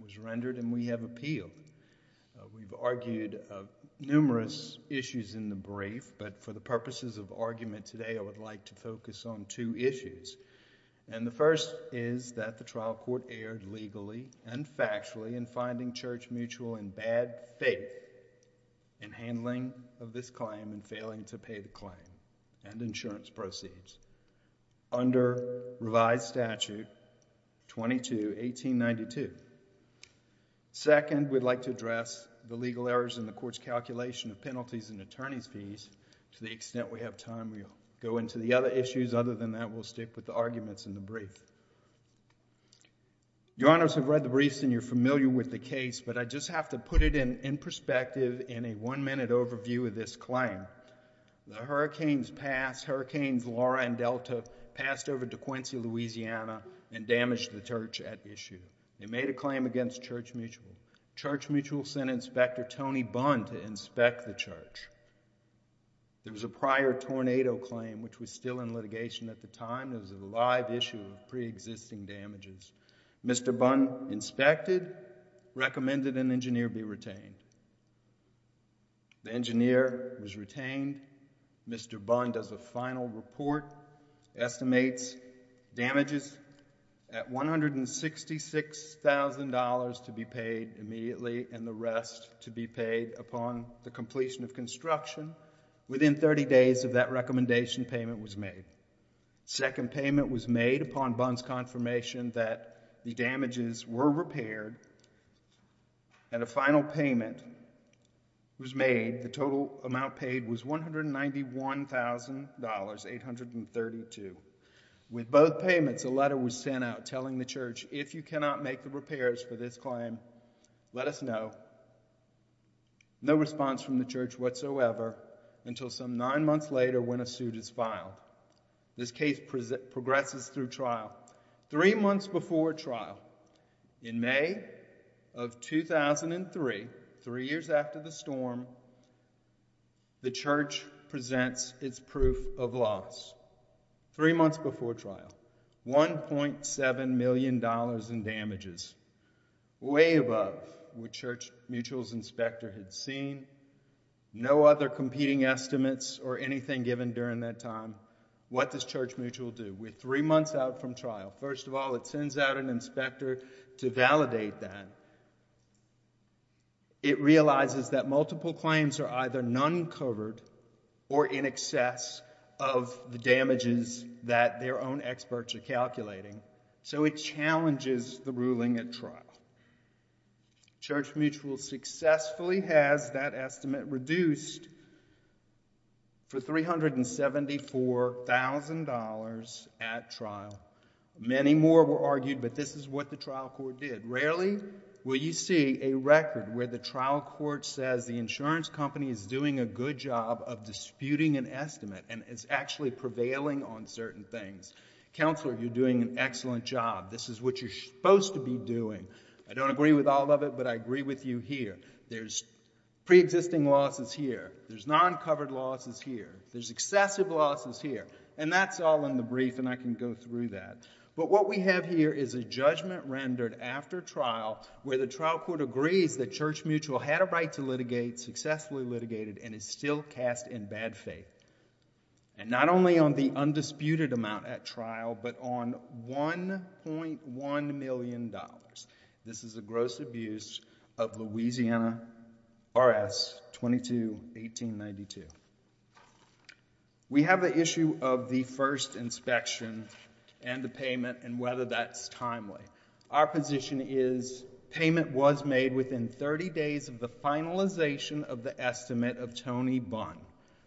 was rendered and we have appealed. We've argued numerous issues in the brief, but for the purposes of argument today I would like to focus on two issues. And the first is that the trial court erred legally and factually in finding Church Mutual in bad faith in handling of this claim and failing to pay the claim and insurance proceeds. Under revised statute 22, 1892. Second, we'd like to address the legal errors in the court's calculation of penalties and attorney's fees. To the extent we have time, we'll go into the other issues. Other than that, we'll stick with the arguments in the brief. Your Honors have read the briefs and you're familiar with the case, but I just have to put it in perspective in a one-minute overview of this claim. The hurricanes passed. Hurricanes Laura and Delta passed over to and damaged the church at issue. They made a claim against Church Mutual. Church Mutual sent Inspector Tony Bunn to inspect the church. There was a prior tornado claim which was still in litigation at the time. It was a live issue of pre-existing damages. Mr. Bunn inspected, recommended an engineer be retained. The engineer was retained. Mr. Bunn does a payment at $166,000 to be paid immediately and the rest to be paid upon the completion of construction. Within 30 days of that recommendation, payment was made. Second payment was made upon Bunn's confirmation that the damages were repaired. And a final payment was made. The total amount paid was $191,832. With both payments, a letter was sent out telling the church, if you cannot make the repairs for this claim, let us know. No response from the church whatsoever until some nine months later when a suit is filed. This case progresses through trial. Three months before trial, in May of 2003, three years after the storm, the church presents its proof of loss. Three months before trial, $1.7 million in damages. Way above what Church Mutual's inspector had seen. No other competing estimates or anything given during that time. What does Church Mutual do? We're three months out from trial. First of all, it sends out an inspector to validate that. It realizes that multiple claims are either non-covered or in excess of the damages that their own experts are calculating. So it challenges the ruling at trial. Church Mutual successfully has that estimate reduced for $374,000 at trial. Many more were argued, but this is what the trial court did. Rarely will you see a record where the trial court says the insurance company is doing a good job of disputing an estimate and is actually prevailing on certain things. Counselor, you're doing an excellent job. This is what you're supposed to be doing. I don't agree with all of it, but I agree with you here. There's pre-existing losses here. There's non-covered losses here. There's excessive losses here. And that's all in the brief, and I can go through that. But what we have here is a judgment rendered after trial where the trial court agrees that Church Mutual had a right to litigate, successfully litigated, and is still cast in bad faith. And not only on the undisputed amount at trial, but on $1.1 million. This is a gross abuse of Louisiana R.S. 22-1892. We have an issue of the first inspection and the payment and whether that's timely. Our position is payment was made within 30 days of the finalization of the estimate of Tony Bunn,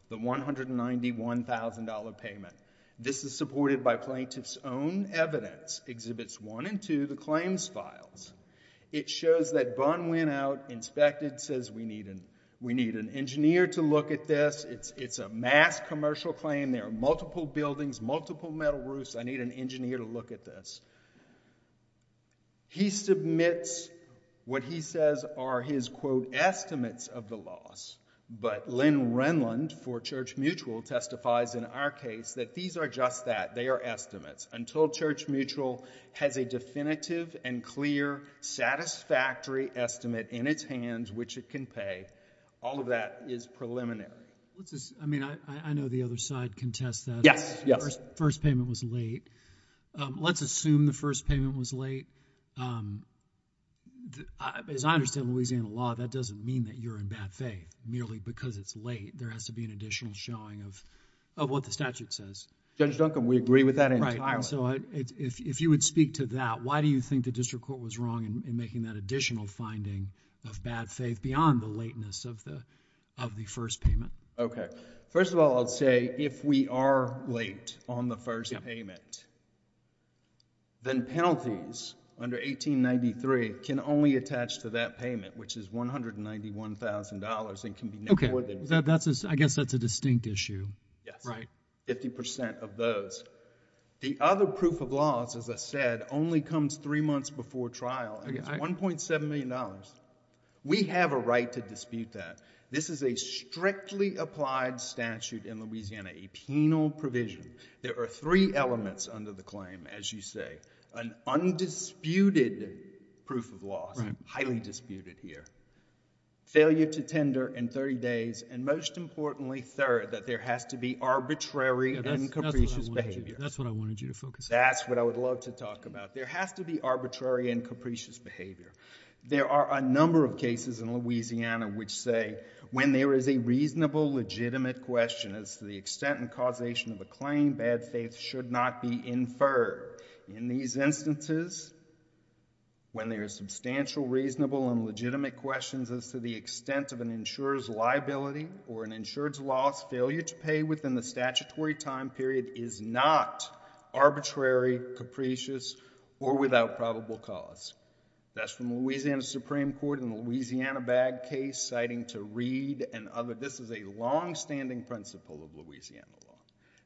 the $191,000 payment. This is supported by plaintiff's own evidence, exhibits one and two, the claims files. It shows that Bunn went out, inspected, says we need an engineer to look at this. It's a mass commercial claim. There are multiple buildings, multiple metal roofs. I need an engineer to look at this. He submits what he says are his, quote, estimates of the loss. But Lynn Renlund for Church Mutual testifies in our case that these are just that. They are estimates. Until Church Mutual has a definitive and clear satisfactory estimate in its hands which it can pay, all of that is preliminary. What's this? I mean, I know the other side can test that. Yes, yes. First payment was late. Let's assume the first payment was late. As I understand Louisiana law, that doesn't mean that you're in bad faith. Merely because it's late, there has to be an additional showing of what the statute says. Judge Duncombe, we agree with that entirely. Right. If you would speak to that, why do you think the district court was wrong in making that additional finding of bad faith beyond the lateness of the first payment? Okay. First of all, I'll say if we are late on the first payment, then penalties under 1893 can only attach to that payment which is $191,000 and can be no more than... I guess that's a distinct issue. Yes. Right. Fifty percent of those. The other proof of laws, as I said, only comes three months before trial and it's $1.7 million. We have a right to dispute that. This is a strictly applied statute in Louisiana, a penal provision. There are three elements under the claim, as you say. An undisputed proof of laws, highly disputed here. Failure to tender in thirty days and most importantly, third, that there has to be arbitrary and capricious behavior. That's what I wanted you to focus on. That's what I would love to talk about. There has to be arbitrary and capricious behavior. There are a number of cases in Louisiana which say when there is a reasonable, legitimate question as to the extent and causation of a claim, bad faith should not be inferred. In these instances, when there is substantial, reasonable and legitimate questions as to the extent of an insurer's liability or an insurer's loss, failure to pay within the statutory time period is not arbitrary, capricious, or without probable cause. That's from Louisiana Supreme Court in the Louisiana bag case, citing to Reed and others. This is a longstanding principle of Louisiana law.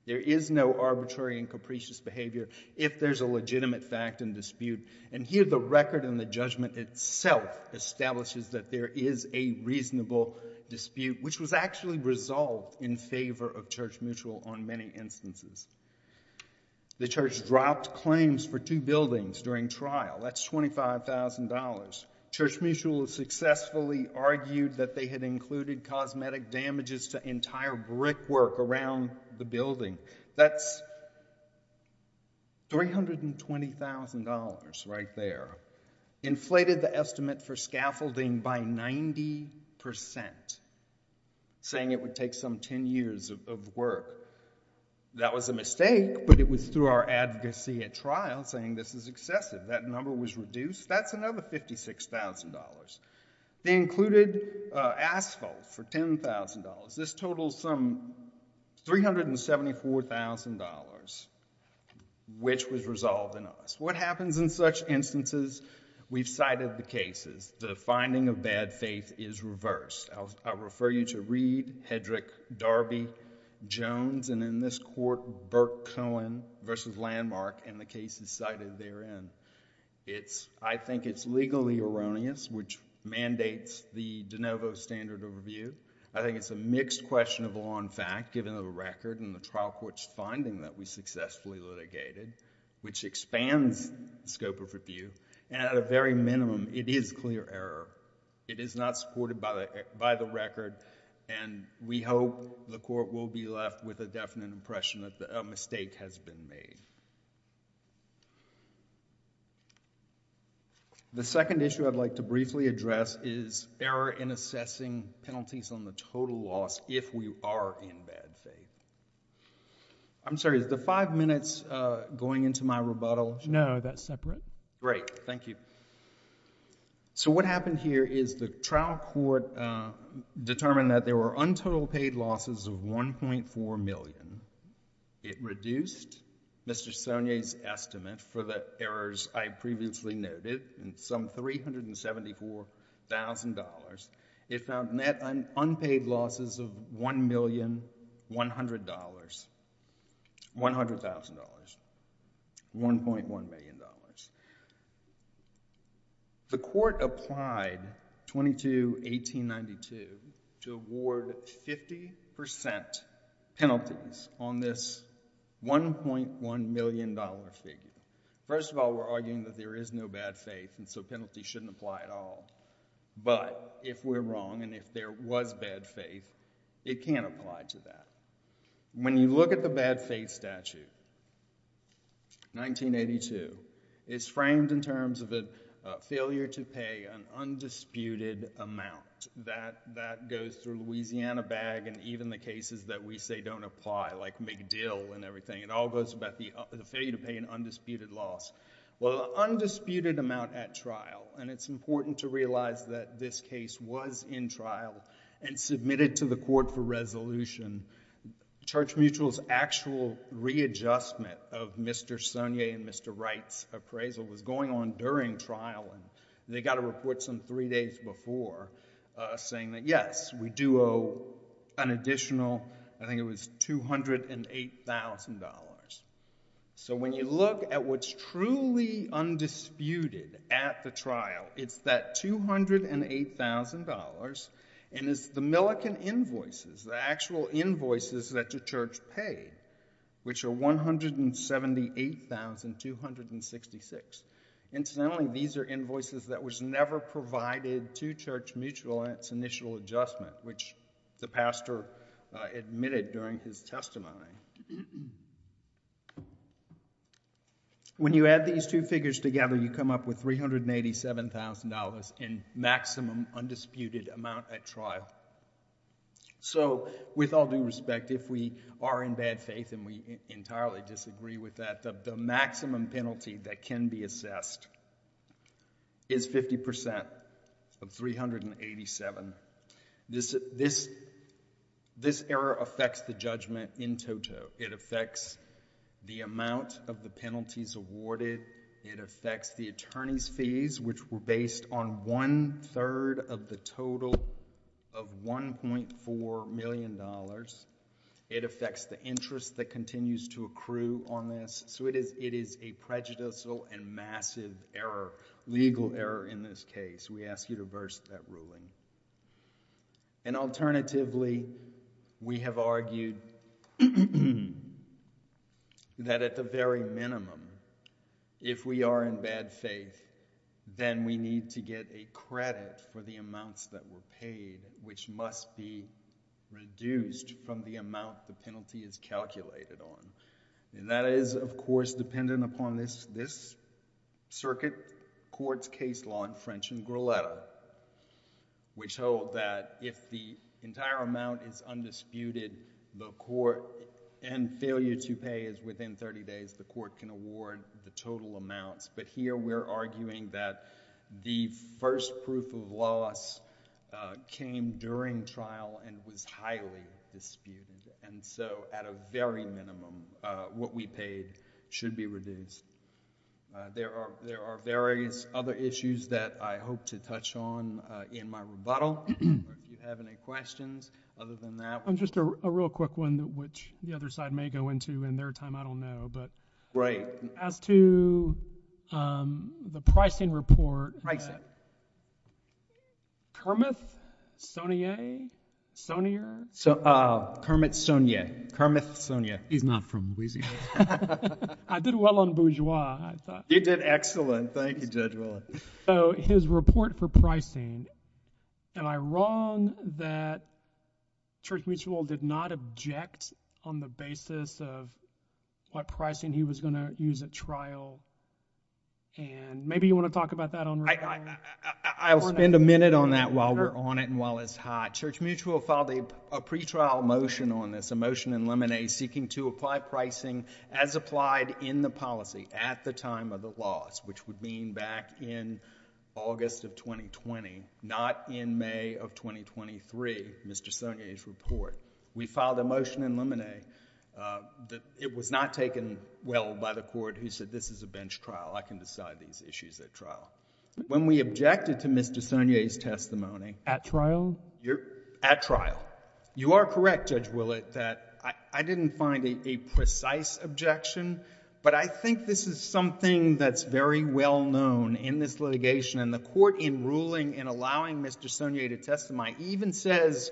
There is no arbitrary and capricious behavior if there's a legitimate fact and dispute. And here the record in the judgment itself establishes that there is a reasonable dispute, which was actually resolved in favor of Church Mutual on many instances. The church dropped claims for two buildings during trial. That's $25,000. Church Mutual successfully argued that they had included cosmetic damages to entire brickwork around the building. That's $320,000 right there. Inflated the estimate for scaffolding by 90%, saying it would take some 10 years of work. That was a mistake, but it was through our advocacy at trial saying this is excessive. That number was reduced. That's another $56,000. They included asphalt for $10,000. This totals some $374,000, which was resolved in us. What happens in such instances? We've cited the cases. The finding of bad faith is reversed. I'll refer you to Reed, Hedrick, Darby, Jones, and in this court, Burke Cohen versus Landmark and the cases cited therein. I think it's legally erroneous, which mandates the de novo standard of review. I think it's a mixed question of law and fact, given the record and the trial court's finding that we successfully litigated, which expands the scope of review. At a very minimum, it is clear error. It is not supported by the record, and we hope the trial court does not. The second issue I'd like to briefly address is error in assessing penalties on the total loss if we are in bad faith. I'm sorry, is the five minutes going into my rebuttal? No, that's separate. Great. Thank you. What happened here is the trial court determined that there were untold paid losses of $1.4 million. It reduced Mr. Sonnier's estimate for the errors I previously noted in some $374,000. It found net unpaid losses of $1,100,000, $1.1 million. The court applied 22-1892 to award 50% penalties on this $1.1 million figure. First of all, we're arguing that there is no bad faith, and so penalties shouldn't apply at all. But if we're wrong, and if there was bad faith, it can apply to that. When you look at the bad faith statute, 1982, it's framed in terms of a failure to pay an undisputed amount. That goes through Louisiana bag and even the cases that we say don't apply, like McDill and everything. It all goes about the failure to pay an undisputed loss. Well, undisputed amount at trial, and it's important to realize that this case was in trial and submitted to the court for resolution. Church Mutual's actual readjustment of Mr. Sonnier and Mr. Wright's appraisal was going on during trial, and they got a report some three days before saying that, yes, we do owe an additional, I think it was $208,000. So when you look at what's truly undisputed at the trial, it's that $208,000, and it's the Millikan invoices, the actual invoices that the church paid, which are $178,266. Incidentally, these are invoices that was never provided to Church Mutual in its initial adjustment, which the pastor admitted during his testimony. When you add these two figures together, you come up with $387,000 in maximum undisputed amount at trial. So with all due respect, if we are in bad faith and we entirely disagree with that, the maximum penalty that can be assessed is 50% of $387,000. This error affects the judgment in toto. It affects the amount of the penalties awarded. It affects the attorney's fees, which were based on one third of the total of $1.4 million. It affects the interest that continues to accrue on this. So it is a prejudicial and massive error, legal error in this case. We ask you to verse that ruling. And alternatively, we have argued that at the very minimum, if we are in bad faith, then we need to get a credit for the amounts that were paid, which must be reduced from the amount the penalty is calculated on. That is, of course, dependent upon this circuit, court's case law in French and Greletto, which hold that if the entire amount is undisputed and failure to pay is within 30 days, the court can award the total amounts. But here we are arguing that the first proof of loss came during trial and was highly disputed. And so, at a very minimum, what we paid should be reduced. There are various other issues that I hope to touch on in my rebuttal. If you have any questions other than that. Just a real quick one, which the other side may go into in their time. I don't know. Right. As to the pricing report, Kermit, Sonia, Sonia, Kermit Sonia, Kermit Sonia. He's not from Louisiana. I did well on Bourgeois, I thought. You did excellent. Thank you, Judge Willard. His report for pricing, am I wrong that Church Mutual did not object on the basis of what pricing he was going to use at trial? And maybe you want to talk about that on record? I'll spend a minute on that while we're on it and while it's hot. Church Mutual filed a pre-trial motion on this, a motion in lemonade seeking to apply pricing as applied in the policy at the time of the loss, which would mean back in August of 2020, not in May of 2023, Mr. Sonia's report. We filed a motion in lemonade that it was not taken well by the court who said, this is a bench trial. I can decide these issues at trial. When we objected to Mr. Sonia's testimony. At trial? At trial. You are correct, Judge Willard, that I didn't find a precise objection, but I think this is something that's very well known in this litigation and the court in ruling and allowing Mr. Sonia to testify even says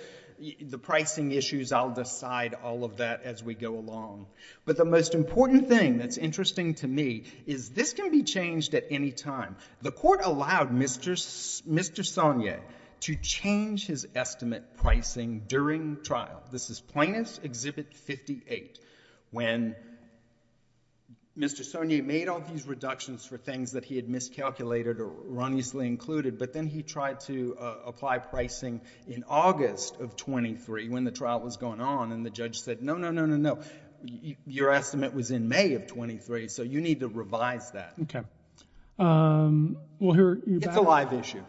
the pricing issues, I'll decide all of that as we go along. But the most important thing that's interesting to me is this can be changed at any time. The court allowed Mr. Sonia to change his estimate pricing during trial. This is Plaintiff's Exhibit 58 when Mr. Sonia made all these reductions for things that he had miscalculated or erroneously included, but then he tried to apply pricing in August of 23 when the trial was going on and the judge said, no, no, no, no, no. Your estimate was in May of 23, so you need to revise that. Okay. We'll hear you back. It's a live issue.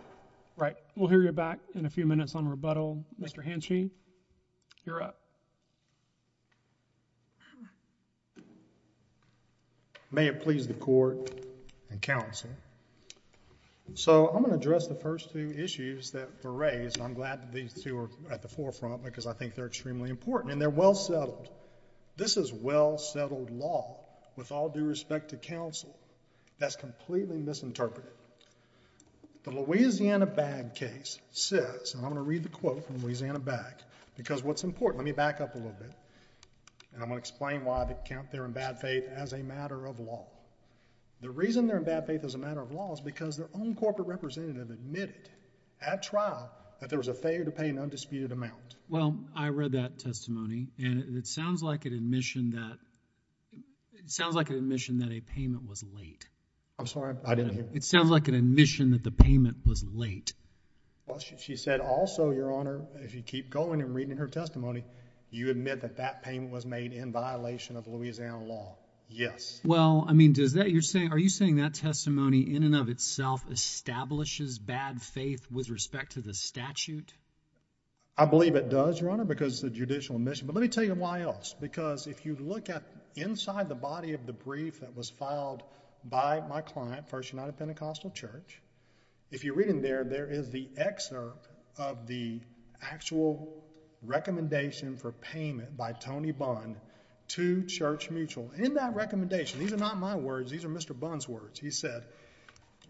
Right. We'll hear you back in a few minutes on rebuttal. Mr. Henschein, you're up. May it please the court and counsel. So I'm going to address the first two issues that were raised. I'm glad that these two are at the forefront because I think they're extremely important and they're well settled. This is well settled law with all due respect to counsel that's completely misinterpreted. The Louisiana bag case says, and I'm going to read the quote from Louisiana bag because what's important, let me back up a little bit, and I'm going to explain why they're in bad faith as a matter of law. The reason they're in bad faith as a matter of law is because their own corporate representative admitted at trial that there was a failure to pay an undisputed amount. Well, I read that testimony and it sounds like an admission that a payment was late. I'm sorry, I didn't hear. It sounds like an admission that the payment was late. She said also, Your Honor, if you keep going and reading her testimony, you admit that that payment was made in violation of Louisiana law. Yes. Well, I mean, are you saying that testimony in and of itself establishes bad faith with respect to the statute? I believe it does, Your Honor, because it's a judicial admission, but let me tell you why else. Because if you look at inside the body of the brief that was filed by my client, First United Pentecostal Church, if you read in there, there is the excerpt of the actual recommendation for payment by Tony Bunn to Church Mutual. In that recommendation, these are not my words, these are Mr. Bunn's words. He said,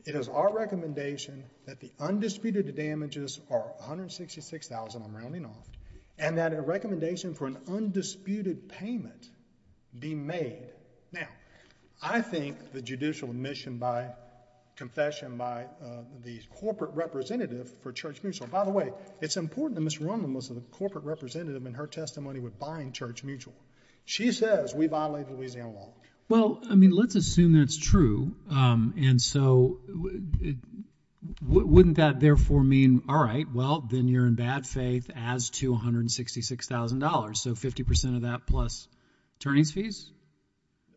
it is our recommendation that the $166,000, I'm rounding off, and that a recommendation for an undisputed payment be made. Now, I think the judicial admission by, confession by the corporate representative for Church Mutual, by the way, it's important that Ms. Roman was a corporate representative in her testimony with buying Church Mutual. She says we violated Louisiana law. Well, I mean, let's assume that's true, and so wouldn't that therefore mean, all right, well, then you're in bad faith as to $166,000. So 50% of that plus attorney's fees?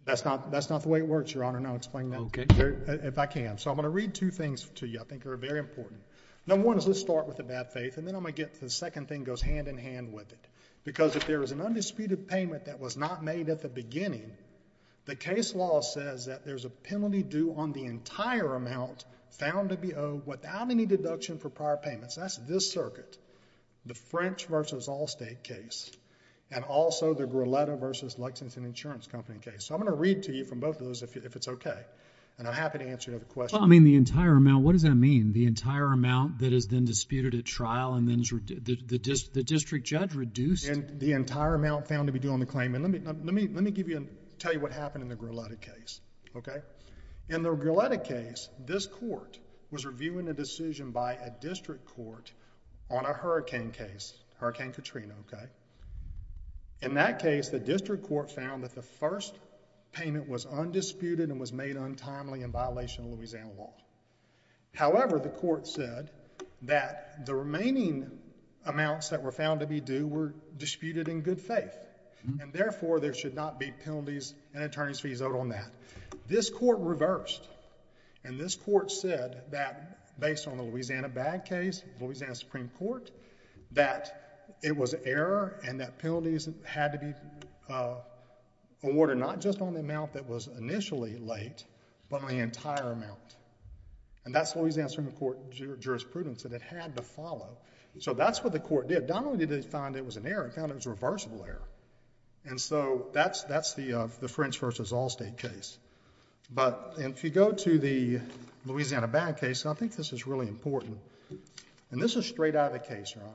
That's not the way it works, Your Honor, and I'll explain that if I can. So I'm going to read two things to you I think are very important. Number one is let's start with the bad faith, and then I'm going to get to the second thing goes hand in hand with it. Because if there is an undisputed payment that was not made at the beginning, the case law says that there's a penalty due on the entire amount found to be owed without any deduction for prior payments. That's this circuit, the French versus Allstate case, and also the Grilletta versus Lexington Insurance Company case. So I'm going to read to you from both of those if it's okay, and I'm happy to answer your other questions. Well, I mean, the entire amount, what does that mean? The entire amount that is then disputed at trial and then the district judge reduced... And the entire amount found to be due on the claim, and let me tell you what happened in the Grilletta case, okay? In the Grilletta case, this court was reviewing a decision by a district court on a hurricane case, Hurricane Katrina, okay? In that case, the district court found that the first payment was undisputed and was made untimely in violation of Louisiana law. However, the court said that the remaining amounts that were found to be due were disputed in good faith, and therefore, there should not be penalties and attorney's fees owed on that. This court reversed, and this court said that based on the Louisiana bad case, Louisiana Supreme Court, that it was error and that penalties had to be awarded not just on the amount that was initially late, but on the entire amount, and that's Louisiana Supreme Court jurisprudence that it had to follow. So that's what the court did. Not only did it find it was an error, it found it was a reversible error, and so that's the French v. Allstate case. But if you go to the Louisiana bad case, I think this is really important, and this is straight out of the case, Your Honor.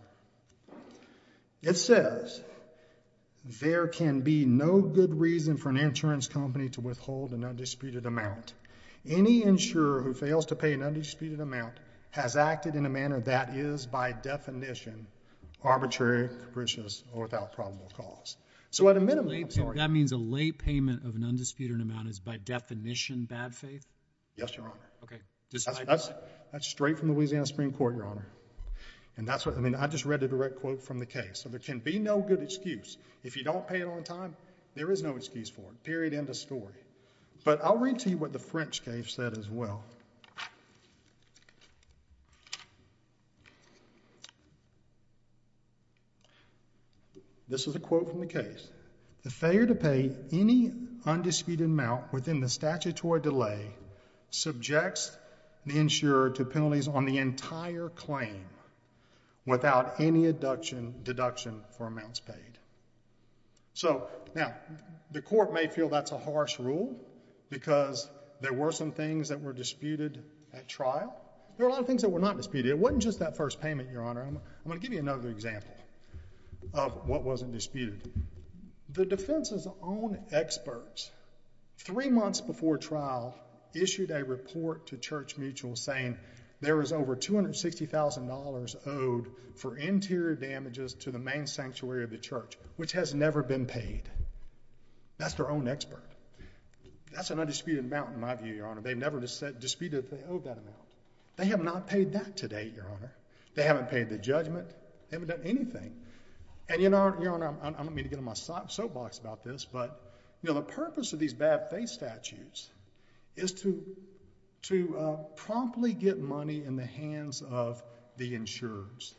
It says, there can be no good reason for an insurance company to withhold an undisputed amount. Any insurer who fails to pay an undisputed amount has acted in a manner that is by definition arbitrary, capricious, or without probable cause. So at a minimum, I'm sorry. That means a late payment of an undisputed amount is by definition bad faith? Yes, Your Honor. Okay. That's straight from Louisiana Supreme Court, Your Honor. And that's what, I mean, I just read a direct quote from the case. So there can be no good excuse. If you don't pay it on time, there is no excuse for it. Period. End of story. But I'll read to you what the French case said as well. This is a quote from the case. The failure to pay an undisputed amount within the statutory delay subjects the insurer to penalties on the entire claim without any deduction for amounts paid. So now, the court may feel that's a harsh rule because there were some things that were disputed at trial. There were a lot of things that were not disputed. It wasn't just that first payment, Your Honor. I'm going to give you another example of what wasn't disputed. The defense's own experts, three months before trial, issued a report to Church Mutual saying there was over $260,000 owed for interior damages to the main sanctuary of the church, which has never been paid. That's their own expert. That's an undisputed amount in my view, Your Honor. They've never disputed that amount. They owe that amount. They have not paid that to date, Your Honor. They haven't paid the judgment. They haven't done anything. And Your Honor, I don't mean to get in my soapbox about this, but the purpose of these bad faith statutes is to promptly get money in the hands of the insurers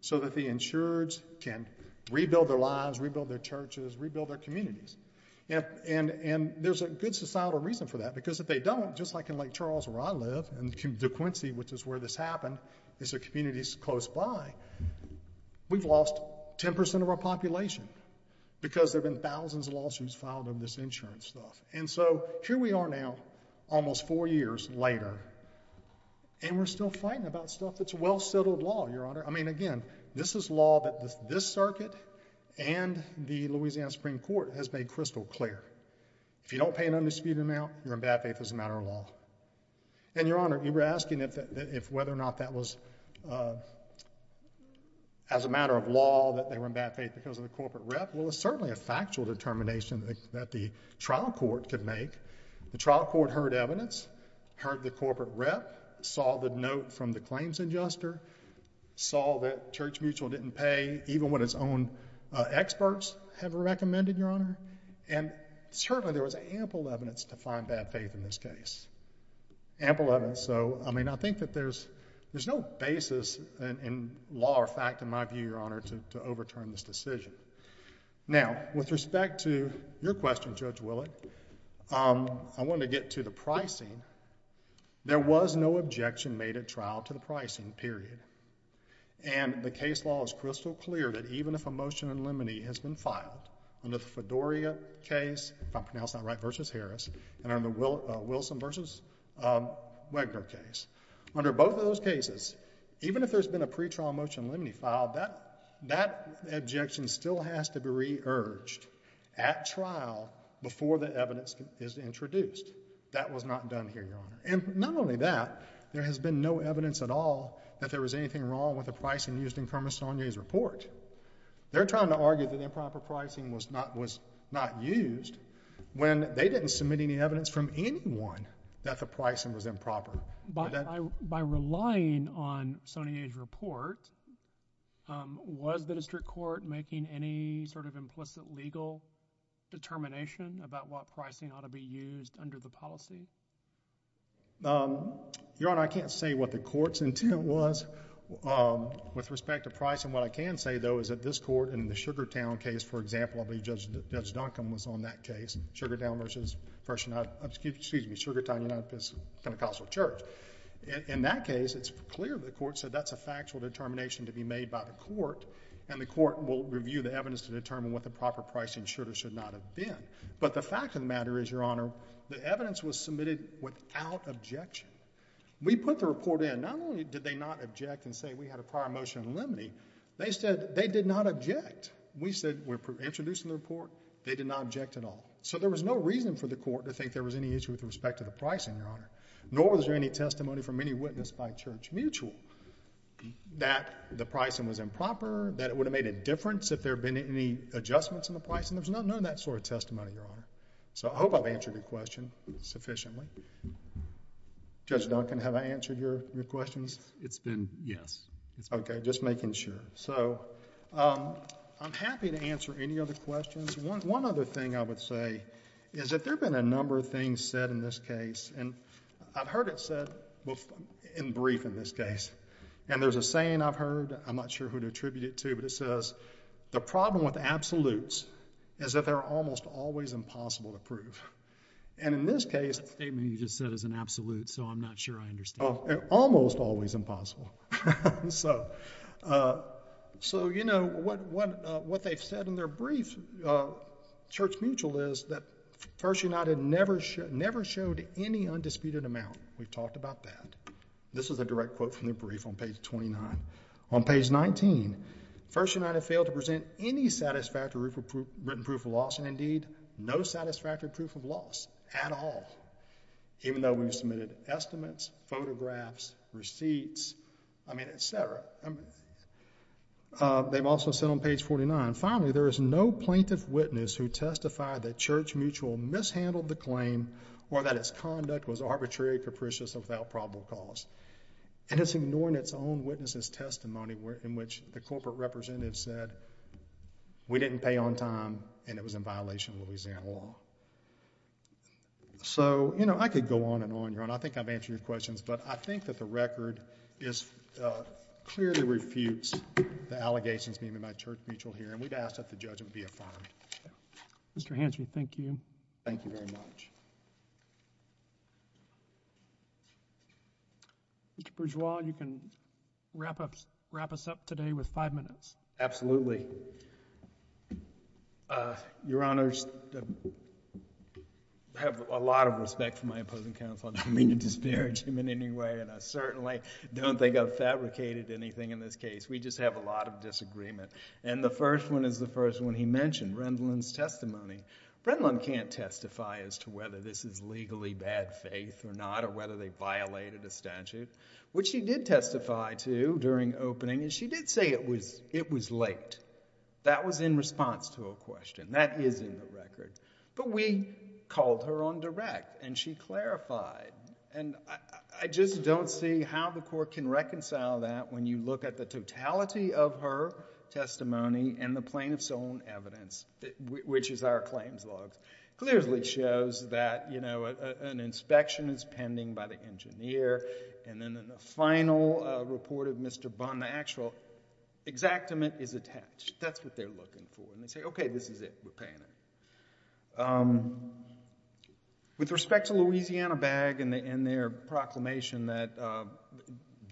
so that the insurers can rebuild their lives, rebuild their churches, rebuild their communities. And there's a good societal reason for that because if they don't, just like in Lake Charles, where I live, and De Quincey, which is where this happened, is a community close by, we've lost 10% of our population because there have been thousands of lawsuits filed on this insurance stuff. And so, here we are now, almost four years later, and we're still fighting about stuff that's a well-settled law, Your Honor. I mean, again, this is law that this circuit and the Louisiana Supreme Court has made crystal clear. If you don't pay an undisputed amount, you're in bad faith as a matter of law. And Your Honor, you were asking if whether or not that was as a matter of law that they were in bad faith because of the corporate rep. Well, it's certainly a factual determination that the trial court could make. The trial court heard evidence, heard the corporate rep, saw the note from the claims adjuster, saw that Church Mutual didn't pay even what its own Certainly, there was ample evidence to find bad faith in this case. Ample evidence. So, I mean, I think that there's no basis in law or fact, in my view, Your Honor, to overturn this decision. Now, with respect to your question, Judge Willett, I want to get to the pricing. There was no objection made at trial to the pricing, period. And the case law is crystal clear that even if a motion in limine has been filed under the Fedoria case, if I pronounce that right, versus Harris, and under the Wilson versus Wegner case, under both of those cases, even if there's been a pretrial motion in limine filed, that objection still has to be re-urged at trial before the evidence is introduced. That was not done here, Your Honor. And not only that, there has been no evidence at all that there was anything wrong with the pricing used in Kermit Saunier's report. They're trying to argue that improper pricing was not used when they didn't submit any evidence from anyone that the pricing was improper. By relying on Saunier's report, was the district court making any sort of implicit legal determination about what pricing ought to be used under the policy? Your Honor, I can't say what the court's intent was with respect to pricing. What I can say, though, is that this court in the Sugartown case, for example, I believe Judge Duncombe was on that case, Sugartown versus Pentecostal Church. In that case, it's clear the court said that's a factual determination to be made by the court, and the court will review the evidence to determine what the proper pricing should or should not have been. But the fact of the matter is, Your Honor, the evidence was submitted without objection. We put the report in. Not only did they not object and say we had a prior motion in limine, they said they did not object. We said we're introducing the report. They did not object at all. So there was no reason for the court to think there was any issue with respect to the pricing, Your Honor, nor was there any testimony from any witness by Church Mutual that the pricing was improper, that it would have made a difference if there had been any adjustments in the pricing. There's none of that sort of testimony, Your Honor. So I hope I've answered your question sufficiently. Judge Duncombe, have I answered your questions? It's been yes. Okay, just making sure. So I'm happy to answer any other questions. One other thing I would say is that there have been a number of things said in this case, and I've heard it said in brief in this case, and there's a saying I've heard, I'm not sure who to attribute it to, but it says, the problem with absolutes is that they're almost always impossible to prove. And in this case... That statement you just said is an absolute, so I'm not sure I understand. Almost always impossible. So, you know, what they've said in their brief, Church Mutual, is that First United never showed any undisputed amount. We've talked about that. This is a case in 2019. First United failed to present any satisfactory written proof of loss, and indeed, no satisfactory proof of loss at all, even though we've submitted estimates, photographs, receipts, I mean, et cetera. They've also said on page 49, finally, there is no plaintiff witness who testified that Church Mutual mishandled the claim or that its conduct was arbitrary, capricious, or without probable cause. And it's ignoring its own witness's testimony in which the corporate representative said, we didn't pay on time, and it was in violation of Louisiana law. So, you know, I could go on and on, Your Honor. I think I've answered your questions, but I think that the record is... clearly refutes the allegations made by Church Mutual here, and we'd ask that the judge would be affirmed. Mr. Hanson, thank you. Thank you very much. Mr. Bourgeois, you can wrap us up today with five minutes. Absolutely. Your Honors, I have a lot of respect for my opposing counsel. I don't mean to disparage him in any way, and I certainly don't think I've fabricated anything in this case. We just have a lot of disagreement. And the first one is the first one he mentioned, Rendlin's testimony. Rendlin can't testify as to whether this is legally bad faith or not, or whether they violated a statute. What she did testify to during opening is she did say it was late. That was in response to a question. That is in the record. But we called her on direct, and she clarified. And I just don't see how the Court can reconcile that when you look at the totality of her testimony and the plaintiff's own evidence, which is our claims log, clearly shows that an inspection is pending by the engineer, and then in the final report of Mr. Bunn, the actual exactament is attached. That's what they're looking for. And they say, okay, this is it. We're paying it. With respect to Louisiana BAG and their proclamation that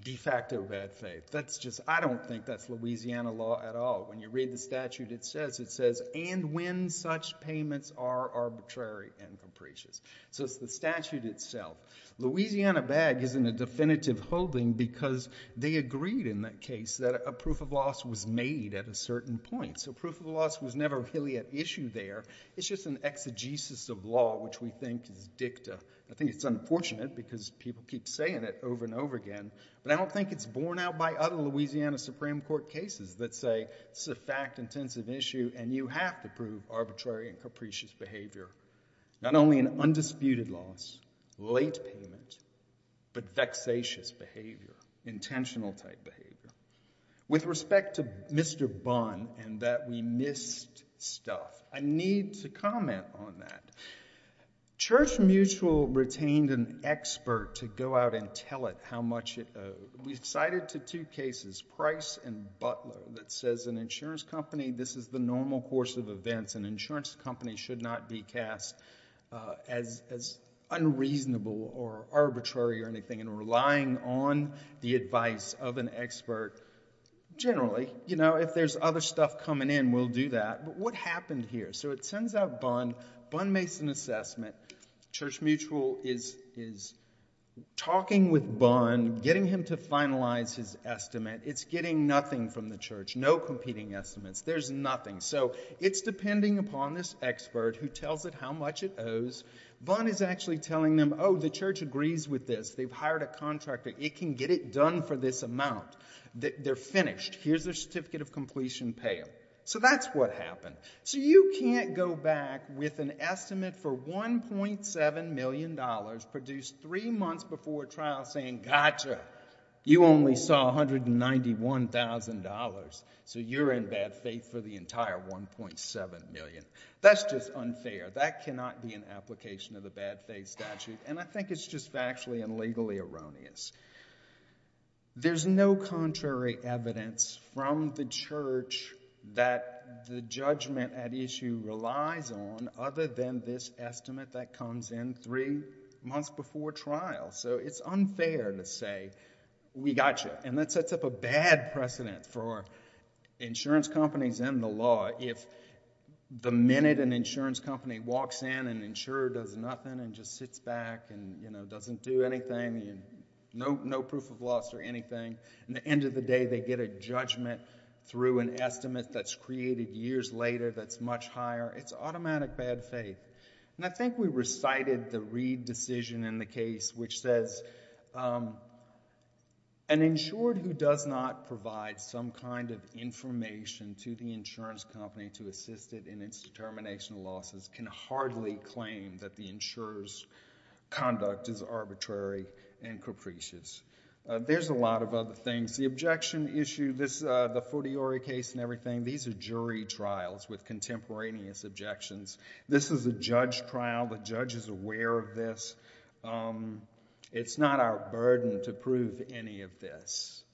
de facto bad faith, that's just, I don't think that's Louisiana law at all. When you read the statute, it says, and when such payments are arbitrary and capricious. So it's the statute itself. Louisiana BAG is in a definitive holding because they agreed in that case that a proof of loss was made at a certain point. So proof of loss was never really an issue there. It's just an exegesis of law, which we think is dicta. I think it's unfortunate because people keep saying it over and over again. But I don't think it's borne out by other Louisiana Supreme Court cases that say this is a fact-intensive issue, and you have to prove arbitrary and capricious behavior. Not only an undisputed loss, late payment, but vexatious behavior, intentional type behavior. With respect to Mr. Bunn and that we missed stuff, I need to comment on that. Church Mutual retained an expert to go out and tell it how much it owed. We cited to two cases, Price and Butler, that says an insurance company, this is the normal course of events. An insurance company should not be cast as unreasonable or arbitrary or anything. And relying on the expert, generally, you know, if there's other stuff coming in, we'll do that. But what happened here? So it sends out Bunn. Bunn makes an assessment. Church Mutual is talking with Bunn, getting him to finalize his estimate. It's getting nothing from the church. No competing estimates. There's nothing. So it's depending upon this expert who tells it how much it owes. Bunn is actually telling them, oh, the church agrees with this. They've hired a contractor. It can get it done for this amount. They're finished. Here's their certificate of completion payout. So that's what happened. So you can't go back with an estimate for $1.7 million produced three months before trial saying, gotcha, you only saw $191,000. So you're in bad faith for the entire $1.7 million. That's just unfair. That cannot be an application of the bad faith statute. And I think it's just factually and legally erroneous. There's no contrary evidence from the church that the judgment at issue relies on other than this estimate that comes in three months before trial. So it's unfair to say, we got you. And that sets up a bad precedent for insurance companies and the law. If the minute an insurance company walks in and an insurer does nothing and just sits back and doesn't do anything, no proof of loss or anything, and at the end of the day they get a judgment through an estimate that's created years later that's much higher, it's automatic bad faith. And I think we recited the Reed decision in the case which says, an insured who does not provide some kind of information to the insurance company to assist it in its determination of losses can hardly claim that the insurer's conduct is arbitrary and capricious. There's a lot of other things. The objection issue, the Fotiori case and everything, these are jury trials with contemporaneous objections. This is a judge trial. The judge is aware of this. It's not our burden to prove any of this.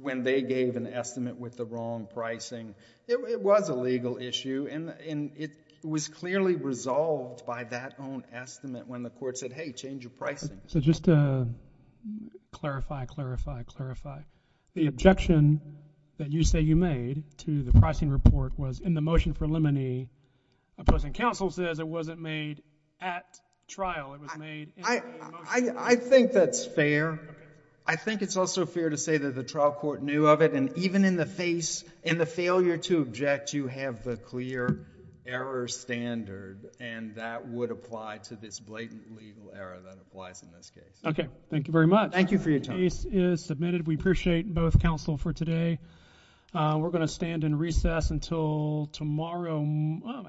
When they gave an estimate with the wrong pricing, it was a legal issue. And it was clearly resolved by that own estimate when the court said, hey, change your pricing. So just to clarify, clarify, clarify, the objection that you say you made to the pricing report was in the motion for limine, opposing counsel says it wasn't made at trial. It was made in the motion. I think that's fair. I think it's also fair to say that the trial court knew of it. And even in the face, in the failure to object, you have the clear error standard. And that would apply to this blatant legal error that applies in this case. Okay. Thank you very much. Thank you for your time. The case is submitted. We appreciate both counsel for today. We're going to stand in recess until tomorrow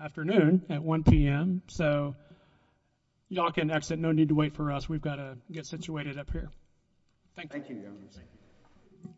afternoon at 1 p.m. So y'all can exit. No need to wait for us. We've got to get situated up here. Thank you. Thank you, Your Honor.